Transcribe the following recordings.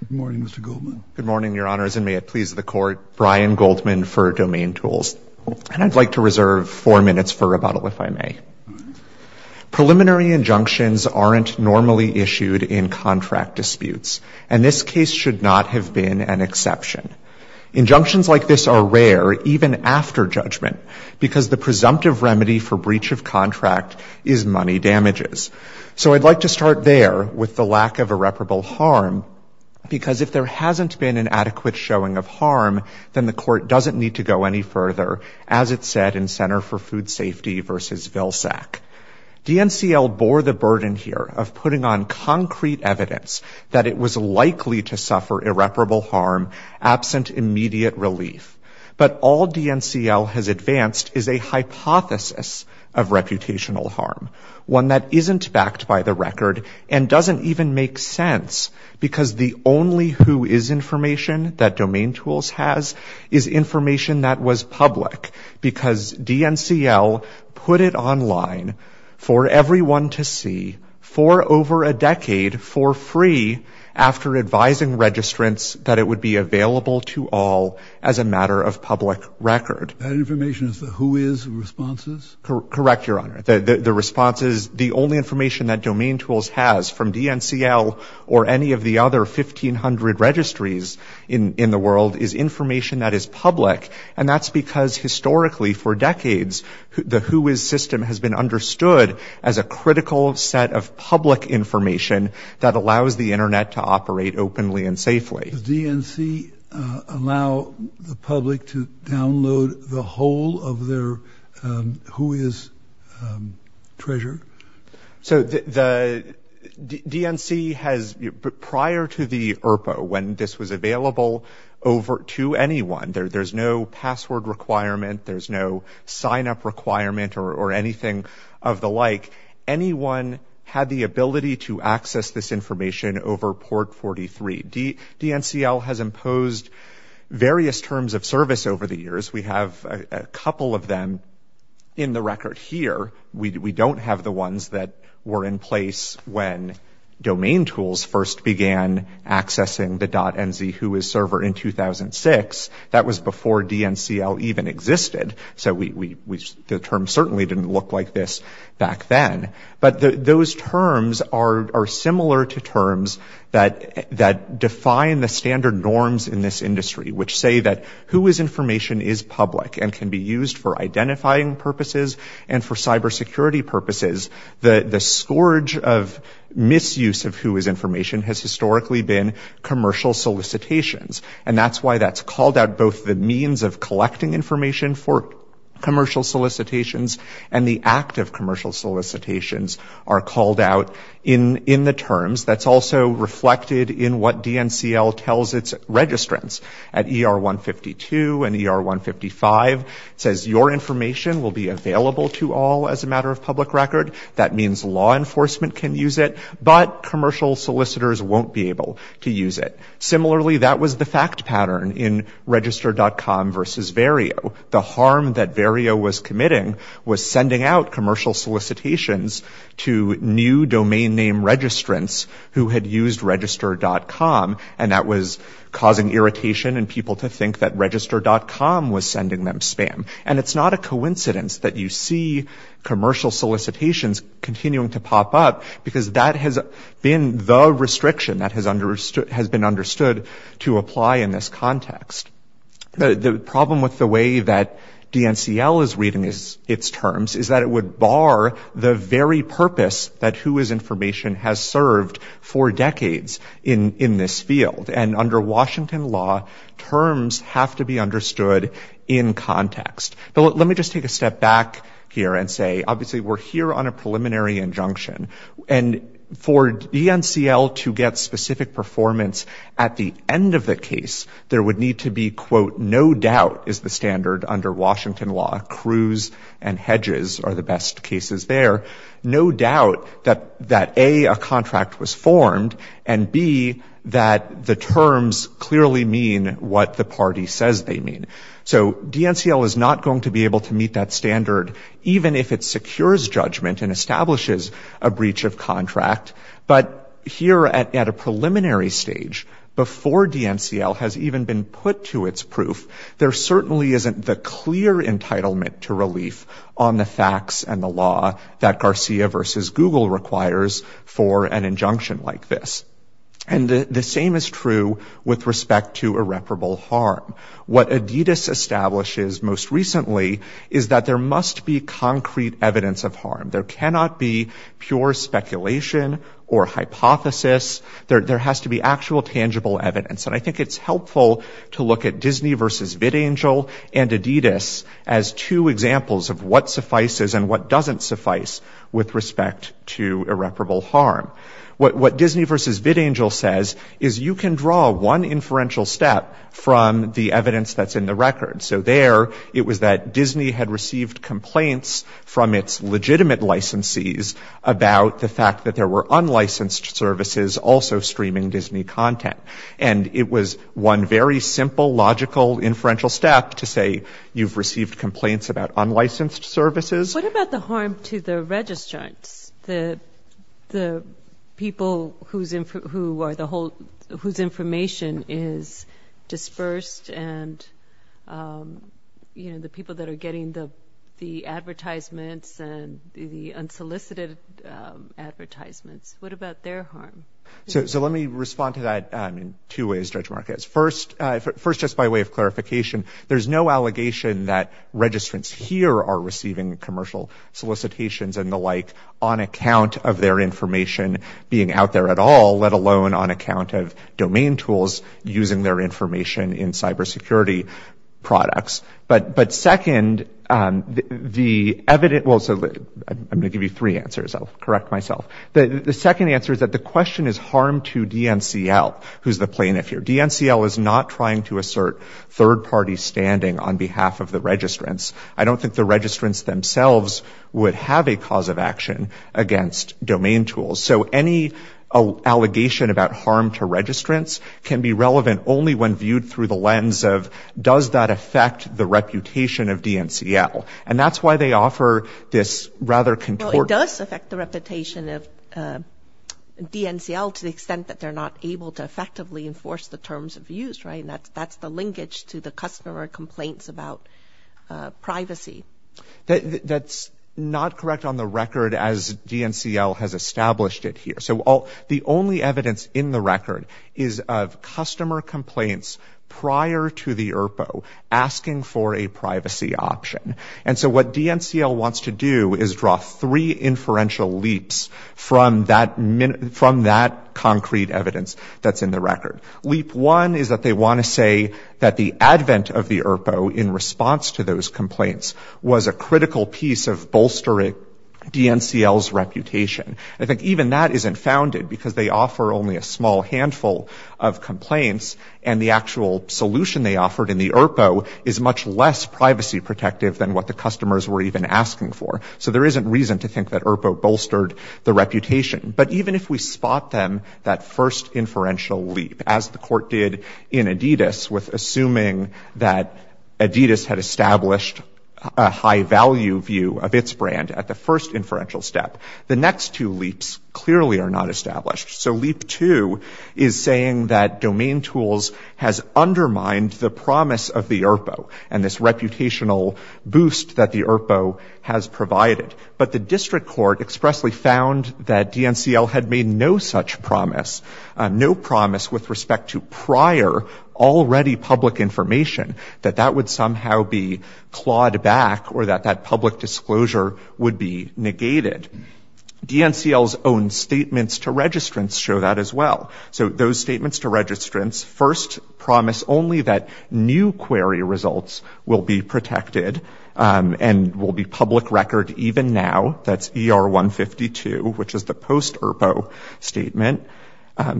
Good morning, Mr. Goldman. Good morning, Your Honors, and may it please the Court, Brian Goldman for DomainTools. And I'd like to reserve four minutes for rebuttal, if I may. Preliminary injunctions aren't normally issued in contract disputes, and this case should not have been an exception. Injunctions like this are rare, even after judgment, because the presumptive remedy for breach of contract is money damages. So I'd like to start there, with the lack of irreparable harm, because if there hasn't been an adequate showing of harm, then the Court doesn't need to go any further, as it said in Center for Food Safety v. Vilsack. DNCL bore the burden here of putting on concrete evidence that it was likely to suffer irreparable harm absent immediate relief. But all DNCL has advanced is a hypothesis of reputational harm, one that isn't backed by the record and doesn't even make sense, because the only who is information that DomainTools has is information that was public, because DNCL put it online for everyone to see, for over a decade, for free, after advising registrants that it would be available to all as a matter of public record. That information is the who is responses? Correct, Your Honor. The responses, the only information that DomainTools has from DNCL or any of the other 1,500 registries in the world is information that is public, and that's because historically, for decades, the who is system has been understood as a critical set of public information that allows the Internet to operate openly and safely. Does DNC allow the public to download the whole of their who is treasure? So the DNC has, prior to the ERPO, when this was available to anyone, there's no password requirement, there's no sign-up requirement or anything of the like. Anyone had the ability to access this information over port 43. DNCL has imposed various terms of service over the years. We have a couple of them in the record here. We don't have the ones that were in place when DomainTools first began accessing the .nz who is server in 2006. That was before DNCL even existed, so the term certainly didn't look like this back then. But those terms are similar to terms that define the standard norms in this industry, which say that who is information is public and can be used for identifying purposes and for cybersecurity purposes. The scourge of misuse of who is information has historically been commercial solicitations, and that's why that's called out both the means of collecting information for commercial solicitations and the act of commercial solicitations are called out in the terms. That's also reflected in what DNCL tells its registrants at ER 152 and ER 155. It says your information will be available to all as a matter of public record. That means law enforcement can use it, but commercial solicitors won't be able to use it. Similarly, that was the fact pattern in register.com versus Vario. The harm that Vario was committing was sending out commercial solicitations to new domain name registrants who had used register.com, and that was causing irritation and people to think that register.com was sending them spam. And it's not a coincidence that you see commercial solicitations continuing to pop up because that has been the restriction that has been understood to apply in this context. The problem with the way that DNCL is reading its terms is that it would bar the very purpose that who is information has served for decades in this field. And under Washington law, terms have to be understood in context. Let me just take a step back here and say, obviously, we're here on a preliminary injunction. And for DNCL to get specific performance at the end of the case, there would need to be, quote, no doubt is the standard under Washington law. Crews and hedges are the best cases there. No doubt that A, a contract was formed, and B, that the terms clearly mean what the party says they mean. So DNCL is not going to be able to meet that standard, even if it secures judgment and establishes a breach of contract. But here at a preliminary stage, before DNCL has even been put to its proof, there certainly isn't the clear entitlement to relief on the facts and the law that Garcia versus Google requires for an injunction like this. And the same is true with respect to recently, is that there must be concrete evidence of harm. There cannot be pure speculation or hypothesis. There has to be actual tangible evidence. And I think it's helpful to look at Disney versus VidAngel and Adidas as two examples of what suffices and what doesn't suffice with respect to irreparable harm. What Disney versus VidAngel says is you can draw one inferential step from the evidence that's in the record. So there, it was that Disney had received complaints from its legitimate licensees about the fact that there were unlicensed services also streaming Disney content. And it was one very simple, logical, inferential step to say, you've received complaints about unlicensed services. What about the harm to the registrants? The people who are the whole, whose information is dispersed and the people that are getting the advertisements and the unsolicited advertisements, what about their harm? So let me respond to that in two ways, Judge Marquez. First, just by way of clarification, there's no allegation that registrants here are receiving commercial solicitations and the like on account of their information being out there at all, let alone on account of domain tools using their information in cybersecurity products. But second, the evidence, I'm going to give you three answers, I'll correct myself. The second answer is that the question is harm to DNCL, who's the plaintiff here. DNCL is not trying to assert third party standing on behalf of the registrants. I don't think the registrants themselves would have a cause of action against domain tools. So any allegation about harm to registrants can be relevant only when viewed through the lens of, does that affect the reputation of DNCL? And that's why they offer this rather contorting... It does affect the reputation of DNCL to the extent that they're not able to effectively enforce the terms of use, right? That's the linkage to the customer complaints about privacy. That's not correct on the record as DNCL has established it here. So the only evidence in the record is of customer complaints prior to the IRPO asking for a privacy option. And so what DNCL wants to do is draw three inferential leaps from that concrete evidence that's in the record. Leap one is that they want to say that the advent of the IRPO in response to those complaints was a critical piece of bolstering DNCL's reputation. I think even that isn't founded because they offer only a small handful of complaints and the actual solution they offered in the IRPO is much less privacy protective than what the customers were even asking for. So there isn't reason to think that IRPO bolstered the reputation. But even if we spot them, that first inferential leap, as the court did in Adidas with assuming that Adidas had established a high value view of its brand at the first inferential step, the next two leaps clearly are not established. So leap two is saying that domain tools has undermined the promise of the IRPO and this reputational boost that the IRPO has provided. But the district court expressly found that DNCL had made no such promise, no promise with respect to prior already public information, that that would somehow be clawed back or that that public disclosure would be negated. DNCL's own statements to registrants show that as well. So those statements to registrants first promise only that new query results will be protected and will be public record even now. That's ER 152, which is the post IRPO statement.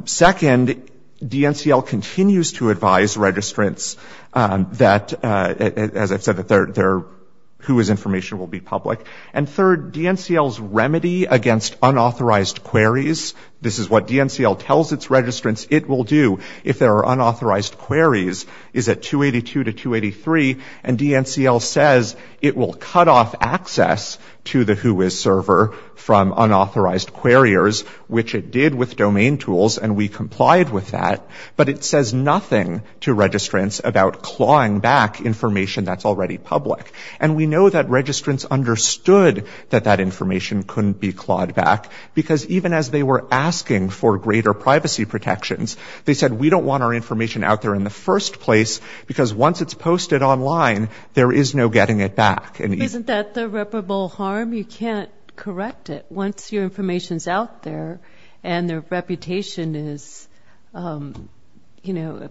Second, DNCL continues to advise registrants that, as I've said, their Whois information will be public. And third, DNCL's remedy against unauthorized queries, this is what DNCL tells its registrants it will do if there are unauthorized queries, is at 282 to 283. And DNCL says it will cut off access to the Whois server from unauthorized queriers, which it did with domain tools, and we complied with that. But it says nothing to registrants about clawing back information that's already public. And we know that registrants understood that that information couldn't be clawed back, because even as they were asking for greater privacy protections, they said, we don't want our information out there in the first place, because once it's posted online, there is no getting it back. Isn't that the reputable harm? You can't correct it once your information's out there and their reputation is, you know,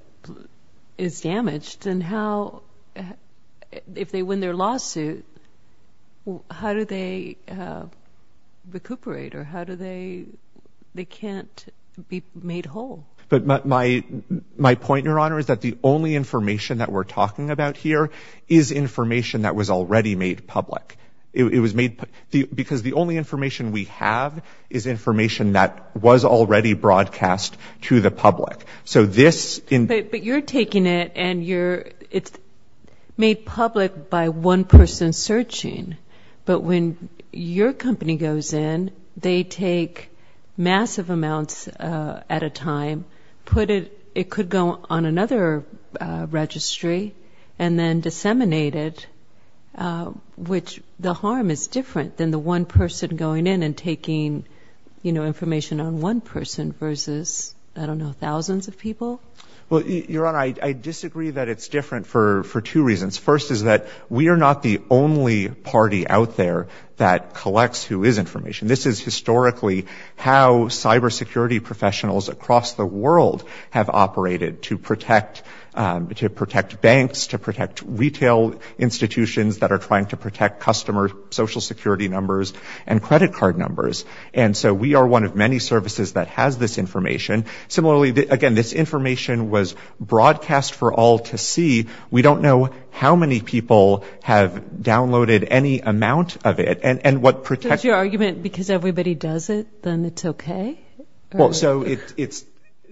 is damaged. And how, if they win their lawsuit, how do they recuperate? Or how do they, they can't be made whole. But my point, Your Honor, is that the only information that we're talking about here is information that was already made public. It was made, because the only information we have is information that was already broadcast to the public. So this in- But you're taking it and you're, it's made public by one person searching. But when your company goes in, they take massive amounts at a time, put it, it could go on another registry, and then disseminate it, which the harm is different than the one person going in and taking, you know, information on one person versus, I don't know, thousands of people? Well, Your Honor, I disagree that it's different for two reasons. First is that we are not the only party out there that collects who is information. This is historically how cybersecurity professionals across the world have operated to protect banks, to protect retail institutions that are trying to protect customer social security numbers and credit card numbers. And so we are one of many services that has this information. Similarly, again, this information was broadcast for all to see. We don't know how many people have downloaded any amount of it. Does your argument, because everybody does it, then it's okay? So it's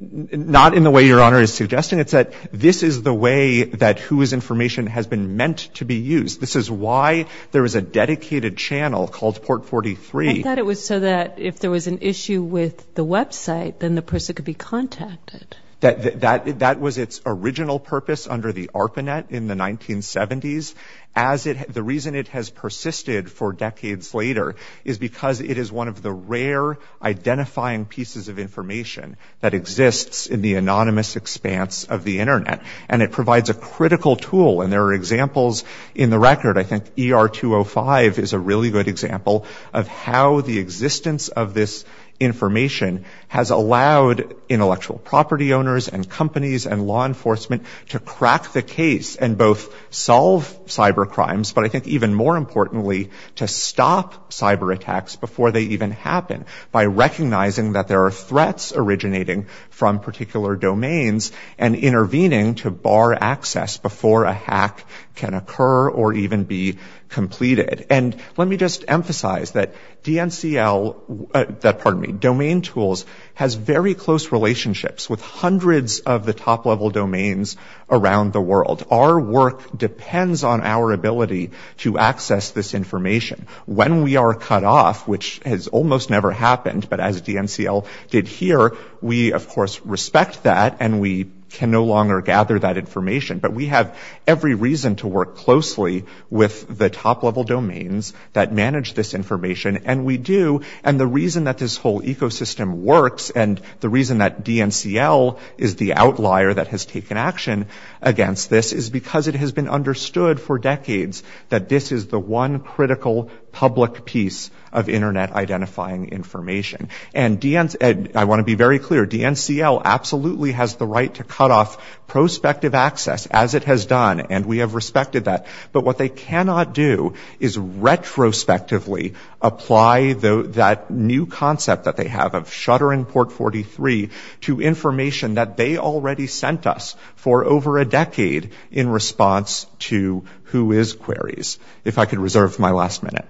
not in the way Your Honor is suggesting. It's that this is the way that who is information has been meant to be used. This is why there is a dedicated channel called Port 43. I thought it was so that if there was an issue with the website, then the person could be contacted. That was its original purpose under the ARPANET in the 1970s. The reason it has persisted for decades later is because it is one of the rare identifying pieces of information that exists in the anonymous expanse of the internet. And it provides a critical tool. And there are examples in the record. I think ER 205 is a really good example of how the existence of this information has allowed intellectual property owners and companies and law enforcement to crack the case and both solve cybercrimes, but I think even more importantly, to stop cyberattacks before they even happen by recognizing that there are threats originating from particular domains and intervening to bar access before a hack can occur or even be completed. And let me just emphasize that DNCL, that, pardon me, Domain Tools, has very close relationships with hundreds of the top level domains around the world. Our work depends on our ability to access this information. When we are cut off, which has almost never happened, but as DNCL did here, we of course respect that and we can no longer gather that information, but we have every reason to work closely with the top level domains that manage this information and we do. And the reason that this whole ecosystem works and the reason that DNCL is the outlier that has taken action against this is because it has been understood for decades that this is the one critical public piece of internet identifying information. I want to be very clear, DNCL absolutely has the right to cut off prospective access as it has done and we have respected that, but what they cannot do is retrospectively apply that new concept that they have of shuttering port 43 to information that they already sent us for over a decade in response to who is queries. If I could reserve my last minute.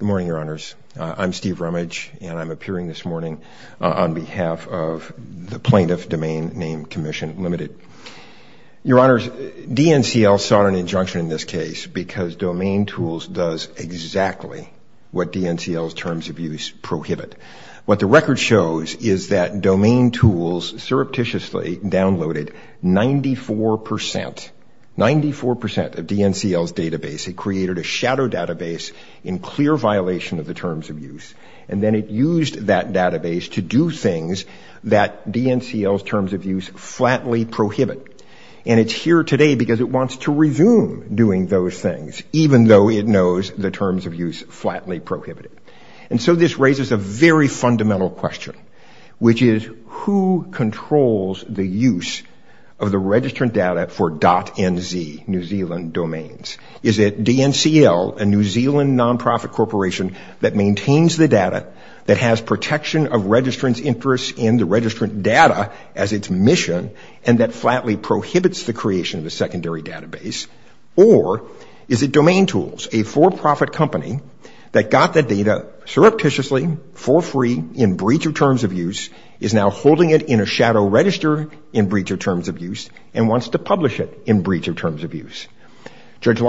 Good morning, your honors. I'm Steve Reckford. I'm the director of the Office of Information and Drummage and I'm appearing this morning on behalf of the plaintiff domain name commission limited. Your honors, DNCL sought an injunction in this case because domain tools does exactly what DNCL's terms of use prohibit. What the record shows is that domain tools surreptitiously downloaded 94%, 94% of DNCL's database. It created a shadow database in clear violation of the terms of use and then it used that database to do things that DNCL's terms of use flatly prohibit. It's here today because it wants to resume doing those things even though it knows the terms of use flatly prohibit it. This raises a very fundamental question, which is who controls the use of the registrant data for .NZ, New Zealand domains? Is it DNCL, a New Zealand non-profit corporation that maintains the data, that has protection of registrant's interest in the registrant data as its mission and that flatly prohibits the creation of a secondary database? Or is it domain tools, a for-profit company that got the data surreptitiously for free in breach of terms of use is now holding it in a shadow register in breach of terms of use and wants to publish it in breach of terms of use? Judge the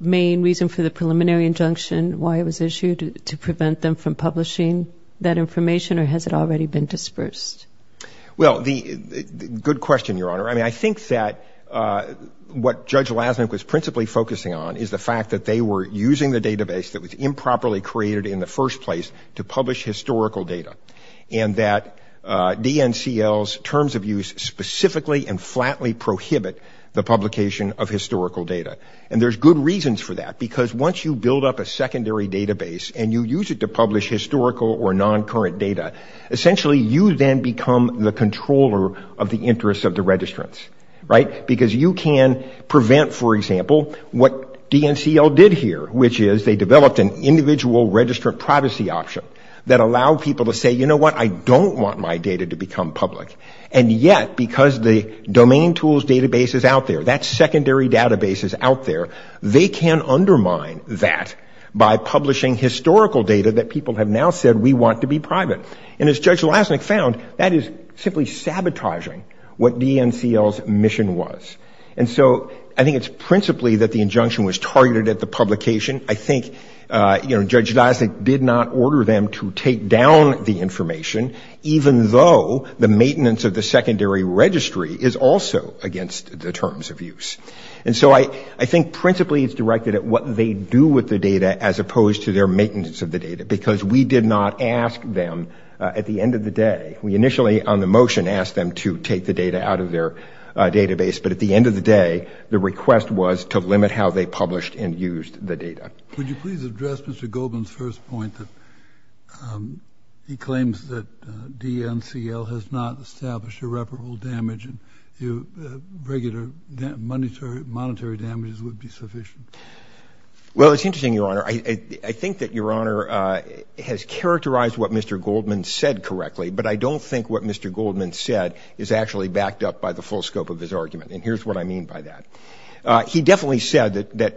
main reason for the preliminary injunction, why it was issued, to prevent them from publishing that information or has it already been dispersed? Well, good question, Your Honor. I mean, I think that what Judge Lasnik was principally focusing on is the fact that they were using the database that was improperly created in the first place to publish historical data and that DNCL's terms of use specifically and flatly prohibit the publication of historical data. And there's good reasons for that, because once you build up a secondary database and you use it to publish historical or non-current data, essentially you then become the controller of the interest of the registrants, right? Because you can prevent, for example, what DNCL did here, which is they developed an individual registrant privacy option that allowed people to say, you know what, I don't want my data to become public. And yet, because the domain tools database is out there, that secondary database is out there, they can undermine that by publishing historical data that people have now said we want to be private. And as Judge Lasnik found, that is simply sabotaging what DNCL's mission was. And so I think it's principally that the injunction was targeted at the publication. I think, you know, Judge Lasnik did not order them to take down the information, even though the maintenance of the secondary registry is also against the terms of use. And so I think principally it's directed at what they do with the data as opposed to their maintenance of the data, because we did not ask them at the end of the day. We initially on the motion asked them to take the data out of their database, but at the end of the day, the request was Would you please address Mr. Goldman's first point that he claims that DNCL has not established irreparable damage and regular monetary damages would be sufficient? Well, it's interesting, Your Honor. I think that Your Honor has characterized what Mr. Goldman said correctly, but I don't think what Mr. Goldman said is actually backed up by the full scope of his argument. And here's what I mean by that. He definitely said that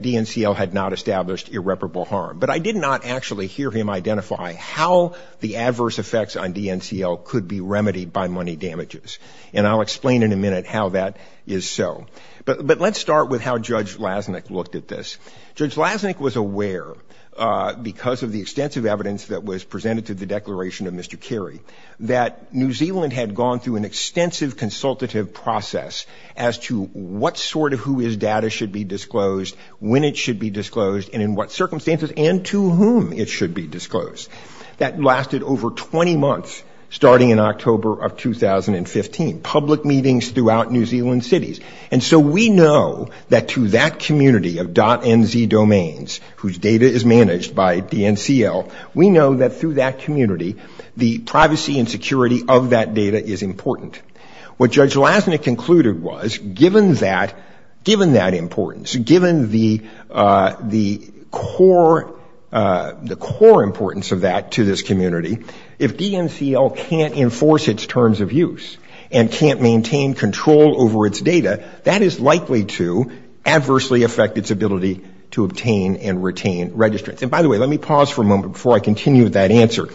But I did not actually hear him identify how the adverse effects on DNCL could be remedied by money damages. And I'll explain in a minute how that is so. But let's start with how Judge Lasnik looked at this. Judge Lasnik was aware, because of the extensive evidence that was presented to the Declaration of Mr. Kerry, that New Zealand had gone through an extensive consultative process as to what sort of who his data should be disclosed, when it should be disclosed, and in what circumstances, and to whom it should be disclosed. That lasted over 20 months, starting in October of 2015, public meetings throughout New Zealand cities. And so we know that to that community of .NZ domains, whose data is managed by DNCL, we know that through that community, the privacy and security of that data is important. What the core importance of that to this community, if DNCL can't enforce its terms of use and can't maintain control over its data, that is likely to adversely affect its ability to obtain and retain registrants. And by the way, let me pause for a moment before I continue with that answer.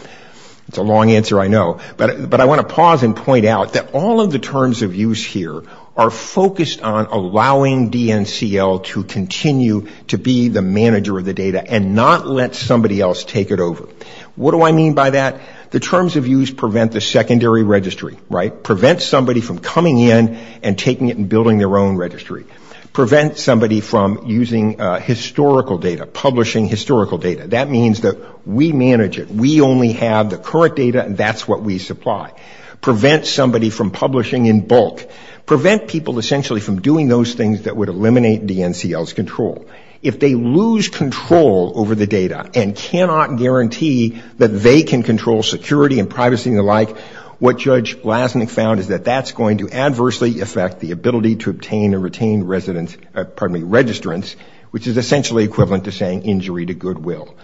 It's a long answer, I know. But I want to pause and point out that all of the terms of use here are focused on allowing DNCL to continue to be the manager of the data and not let somebody else take it over. What do I mean by that? The terms of use prevent the secondary registry, right? Prevent somebody from coming in and taking it and building their own registry. Prevent somebody from using historical data, publishing historical data. That means that we manage it. We only have the current data and that's what we supply. Prevent somebody from publishing in bulk. Prevent people essentially from doing those things that would eliminate DNCL's control. If they lose control over the data and cannot guarantee that they can control security and privacy and the like, what Judge Lasnik found is that that's going to adversely affect the ability to obtain and retain registrants, which is essentially equivalent to saying injury to goodwill.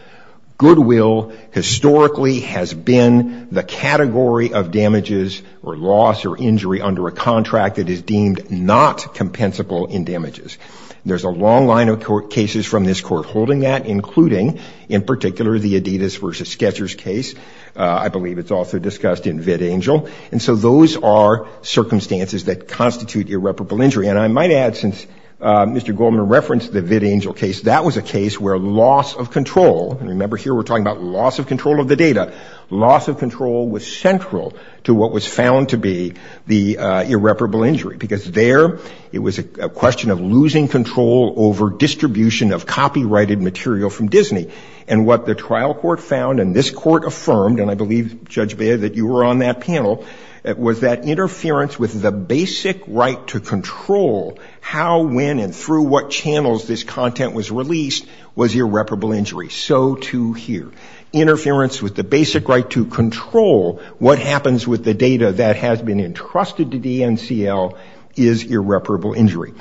Goodwill historically has been the category of damages or loss or injury under a contract that is deemed not compensable in damages. There's a long line of cases from this court holding that, including, in particular, the Adidas versus Sketchers case. I believe it's also discussed in VidAngel. And so those are circumstances that constitute irreparable injury. And I might add, since Mr. Goldman referenced the VidAngel case, that was a case where loss of control, and remember here we're talking about loss of control of the data, loss of control was central to what was found to be the irreparable injury. Because there, it was a question of losing control over distribution of copyrighted material from Disney. And what the trial court found, and this court affirmed, and I believe, Judge Baer, that you were on that panel, was that interference with the basic right to control how, when, and through what channels this content was released was irreparable injury. So too here. Interference with the basic right to control what happens with the data that has been entrusted to DNCL is irreparable injury.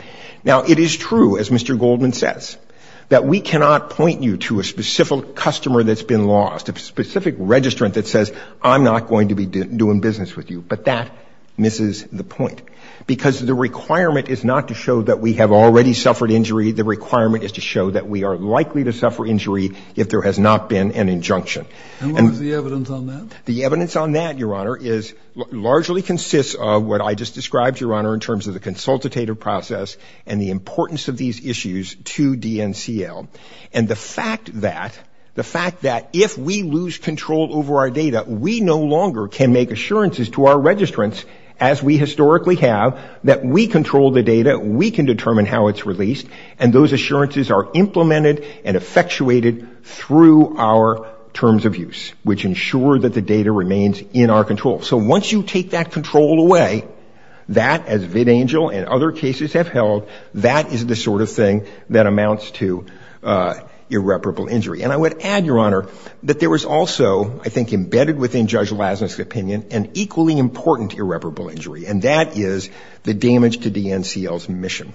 Now it is true, as Mr. Goldman says, that we cannot point you to a specific customer that's been lost, a specific registrant that says, I'm not going to be doing business with you. But that misses the point. Because the requirement is not to show that we have already suffered injury, the requirement is to show that we are likely to suffer injury if there has not been an injunction. And what is the evidence on that? The evidence on that, Your Honor, is, largely consists of what I just described, Your Honor, in terms of the consultative process and the importance of these issues to DNCL. And the fact that, the fact that if we lose control over our data, we no longer can make assurances to our registrants, as we historically have, that we control the data, we can determine how it's released, and those assurances are implemented and effectuated through our terms of use, which ensure that the data remains in our control. So once you take that control away, that, as Vidangel and other cases have held, that is the sort of thing that amounts to irreparable injury. And I would add, Your Honor, that there was also, I think embedded within Judge Lassner's opinion, an equally important irreparable injury, and that is the damage to DNCL's mission.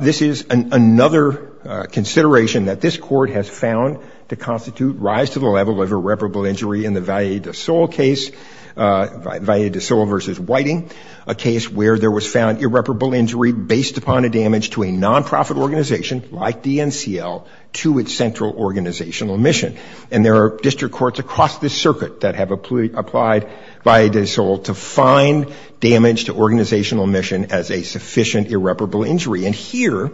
This is another consideration that this Court has found to constitute rise to the level of irreparable injury in the Valle de Sol case, Valle de Sol v. Whiting, a case where there was found irreparable injury based upon a damage to a nonprofit organization like DNCL to its central organizational mission. And there are district courts across this circuit that have applied Valle de Sol to find damage to organizational mission as a sufficient irreparable injury. And here,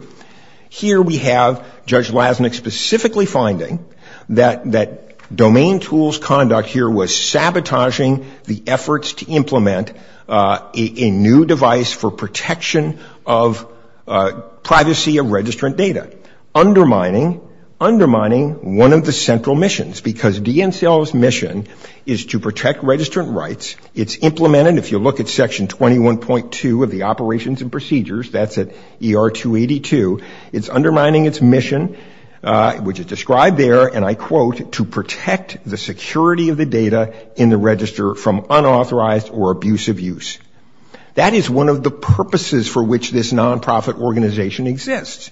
here we have Judge Lassner specifically finding that domain tools conduct here was sabotaging the efforts to implement a new device for protection of privacy of registrant data, undermining, undermining one of the central missions, because DNCL's mission is to protect registrant rights. It's implemented, if you look at Section 21.2 of the Operations and Procedures, that's at ER 282, it's undermining its mission, which is described there, and I quote, to protect the security of the data in the register from unauthorized or abusive use. That is one of the purposes for which this nonprofit organization exists.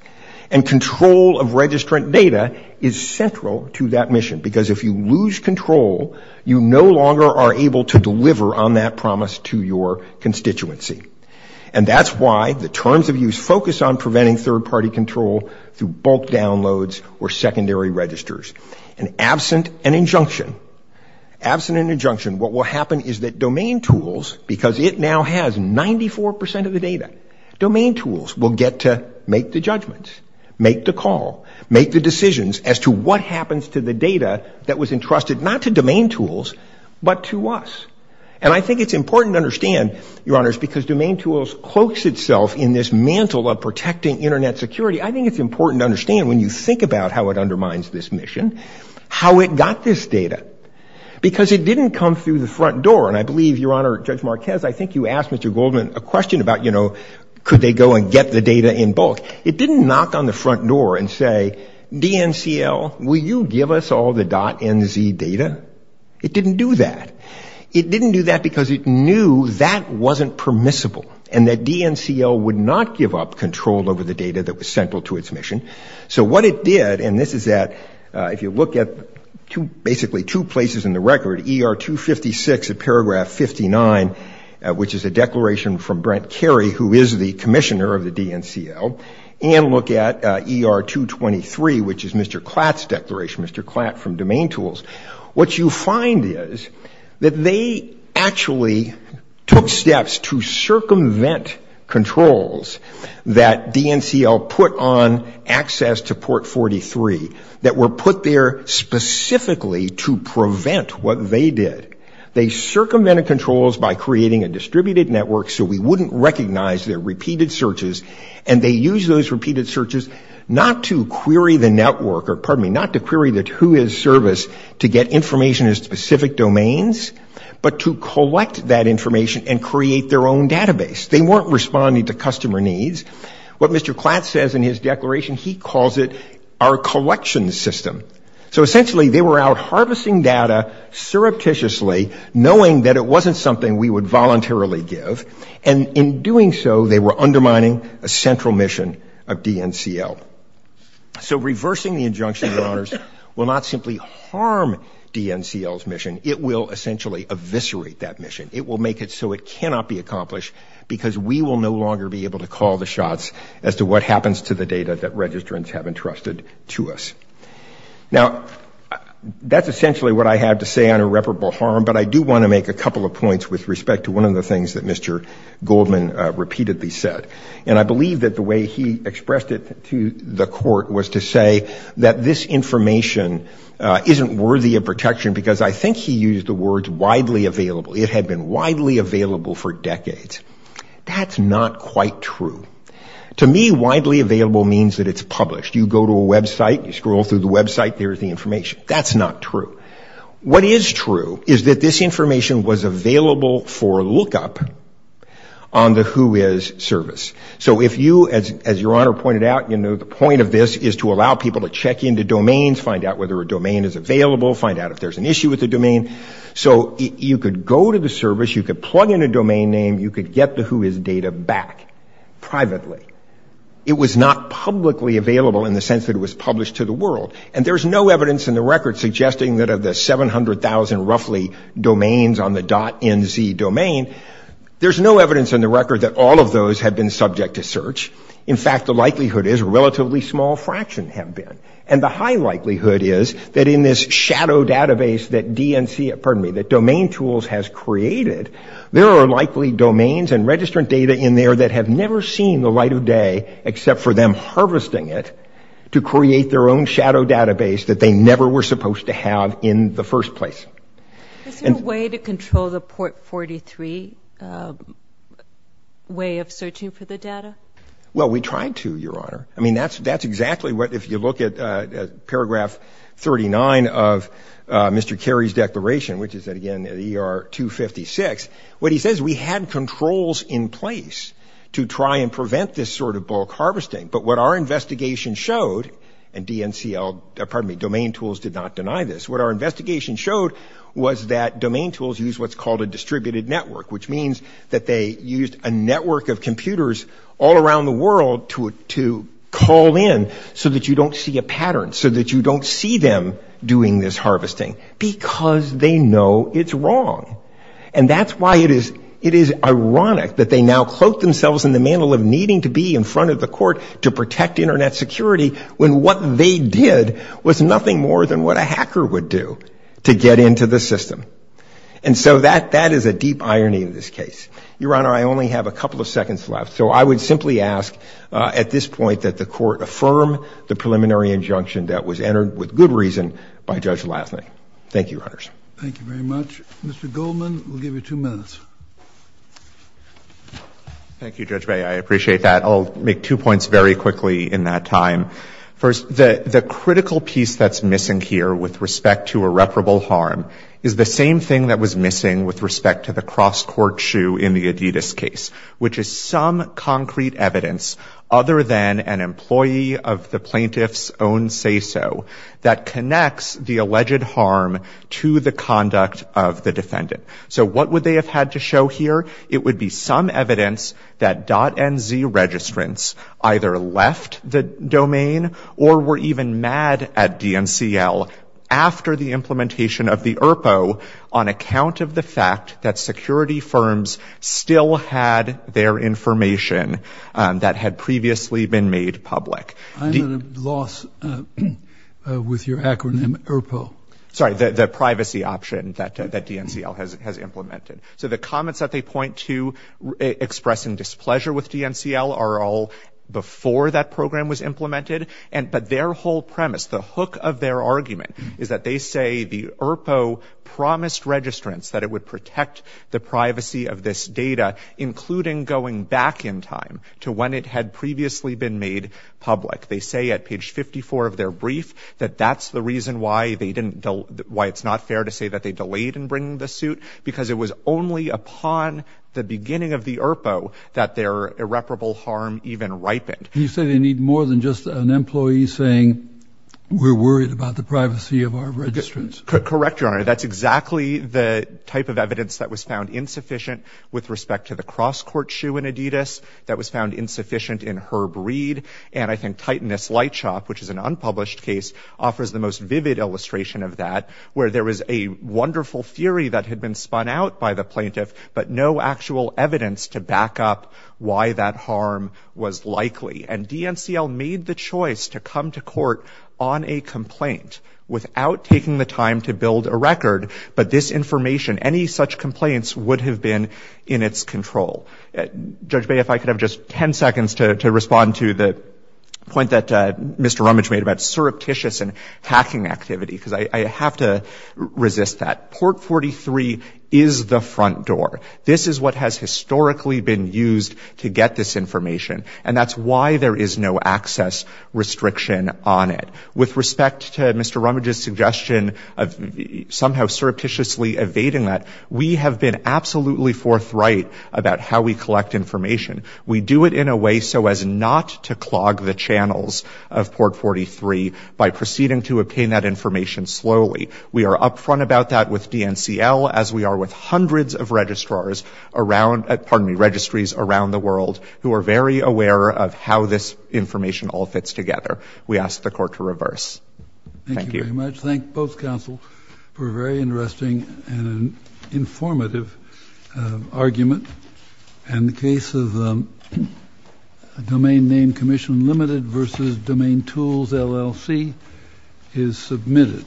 And control of registrant data is central to that mission, because if you lose control, you no longer are able to deliver on that promise to your constituency. And that's why the terms of use focus on preventing third-party control through bulk downloads or secondary registers. And absent an injunction, absent an injunction, what will happen is that domain tools, because it now has 94% of the data, domain tools will get to make the judgments, make the call, make the decisions as to what happens to the data that was entrusted not to domain tools, but to us. And I think it's important to understand, Your Honors, because domain tools cloaks itself in this mantle of protecting Internet security, I think it's important to understand when you think about how it undermines this mission, how it got this data. Because it didn't come through the front door, and I believe, Your Honor, Judge Marquez, I think you asked Mr. Goldman a question about, you know, could they go and get the data in bulk. It didn't knock on the front door and say, DNCL, will you give us all the .NZ data? It didn't do that. It didn't do that because it knew that wasn't permissible and that DNCL would not give up control over the data that was central to its mission. So what it did, and this is at, if you look at basically two places in the record, ER 256 of paragraph 59, which is a declaration from Brent Carey, who is the commissioner of the DNCL, and look at ER 223, which is Mr. Klatt's declaration, Mr. Klatt from domain tools, what you find is that they actually took steps to circumvent controls that DNCL put on access to port 43, that were put there specifically to prevent what they did. They circumvented controls by creating a distributed network so we wouldn't recognize their repeated searches, and they used those repeated searches not to query the network, or pardon me, not to query the who is service to get information in specific domains, but to collect that information and create their own database. They weren't responding to customer needs. What Mr. Klatt says in his declaration, he calls it our collection system. So essentially they were out harvesting data surreptitiously, knowing that it wasn't something we would voluntarily give, and in doing so they were undermining a central mission of DNCL. So reversing the injunction, Your Honors, will not simply harm DNCL's mission, it will essentially eviscerate that mission. It will make it so it cannot be accomplished because we will no longer be able to call the shots as to what happens to the data that registrants have entrusted to us. Now that's essentially what I have to say on irreparable harm, but I do want to make a couple of points with respect to one of the things that Mr. Goldman repeatedly said. And I believe that the way he expressed it to the court was to say that this information isn't worthy of protection because I think he used the words widely available. It had been widely available for decades. That's not quite true. To me widely available means that it's published. You go to a website, you scroll through the website, there's the information. That's not true. What is true is that this information was available for lookup on the Who Is service. So if you, as Your Honor pointed out, you know the point of this is to allow people to check into domains, find out whether a domain is available, find out if there's an issue with the domain. So you could go to the service, you could plug in a domain name, you could get the Who Is data back privately. It was not publicly available in the sense that it was published to the world. And there's no evidence in the record suggesting that of the 700,000 roughly domains on the .nz domain, there's no evidence in the record that all of those have been subject to search. In fact, the likelihood is a relatively small fraction have been. And the high likelihood is that in this shadow database that DNC, pardon me, that Domain Tools has created, there are likely domains and registrant data in there that have never seen the light of day except for them harvesting it to create their own shadow database that they never were supposed to have in the first place. Is there a way to control the Port 43 way of searching for the data? Well, we tried to, Your Honor. I mean, that's exactly what, if you look at paragraph 39 of Mr. Kerry's declaration, which is that again, the ER 256, what he says, we had controls in place to try and prevent this sort of bulk harvesting. But what our investigation showed, and DNCL, pardon me, Domain Tools did not deny this. What our investigation showed was that Domain Tools use what's called a distributed network, which means that they used a network of computers all around the world to call in so that you don't see a pattern, so that you don't see them doing this harvesting because they know it's wrong. And that's why it is ironic that they now cloak themselves in the mantle of needing to be in front of the court to protect Internet security when what they did was nothing more than what a hacker would do to get into the system. And so that is a deep irony in this case. Your Honor, I only have a couple of seconds left. So I would simply ask at this point that the court affirm the preliminary injunction that was entered with good reason by Judge Lassley. Thank you, Your Honors. Thank you very much. Mr. Goldman, we'll give you two minutes. Thank you, Judge May. I appreciate that. I'll make two points very quickly in that time. First, the critical piece that's missing here with respect to irreparable harm is the same thing that was missing with respect to the cross-court shoe in the Adidas case, which is some concrete evidence other than an employee of the plaintiff's own say-so that connects the alleged harm to the conduct of the defendant. So what would they have had to show here? It would be some evidence that .NZ registrants either left the domain or were even mad at ERPO on account of the fact that security firms still had their information that had previously been made public. I'm at a loss with your acronym ERPO. Sorry, the privacy option that DNCL has implemented. So the comments that they point to expressing displeasure with DNCL are all before that program was implemented. But their whole premise, the hook of their argument is that they say the ERPO promised registrants that it would protect the privacy of this data, including going back in time to when it had previously been made public. They say at page 54 of their brief that that's the reason why it's not fair to say that they delayed in bringing the suit because it was only upon the beginning of the ERPO that their irreparable harm even ripened. You say they need more than just an employee saying we're worried about the privacy of our registrants. Correct, Your Honor. That's exactly the type of evidence that was found insufficient with respect to the cross court shoe in Adidas that was found insufficient in Herb Reed. And I think Titanus Lightshop, which is an unpublished case, offers the most vivid illustration of that, where there was a wonderful theory that had been spun out by the and DNCL made the choice to come to court on a complaint without taking the time to build a record. But this information, any such complaints would have been in its control. Judge Bay, if I could have just 10 seconds to respond to the point that Mr. Rummage made about surreptitious and hacking activity, because I have to resist that. Port 43 is the front door. This is what has historically been used to get this information. And that's why there is no access restriction on it. With respect to Mr. Rummage's suggestion of somehow surreptitiously evading that, we have been absolutely forthright about how we collect information. We do it in a way so as not to clog the channels of Port 43 by proceeding to obtain that information slowly. We are upfront about that with DNCL, as we are with hundreds of registries around the world, aware of how this information all fits together. We ask the court to reverse. Thank you very much. Thank both counsel for a very interesting and informative argument. And the case of Domain Name Commission Limited versus Domain Tools LLC is submitted.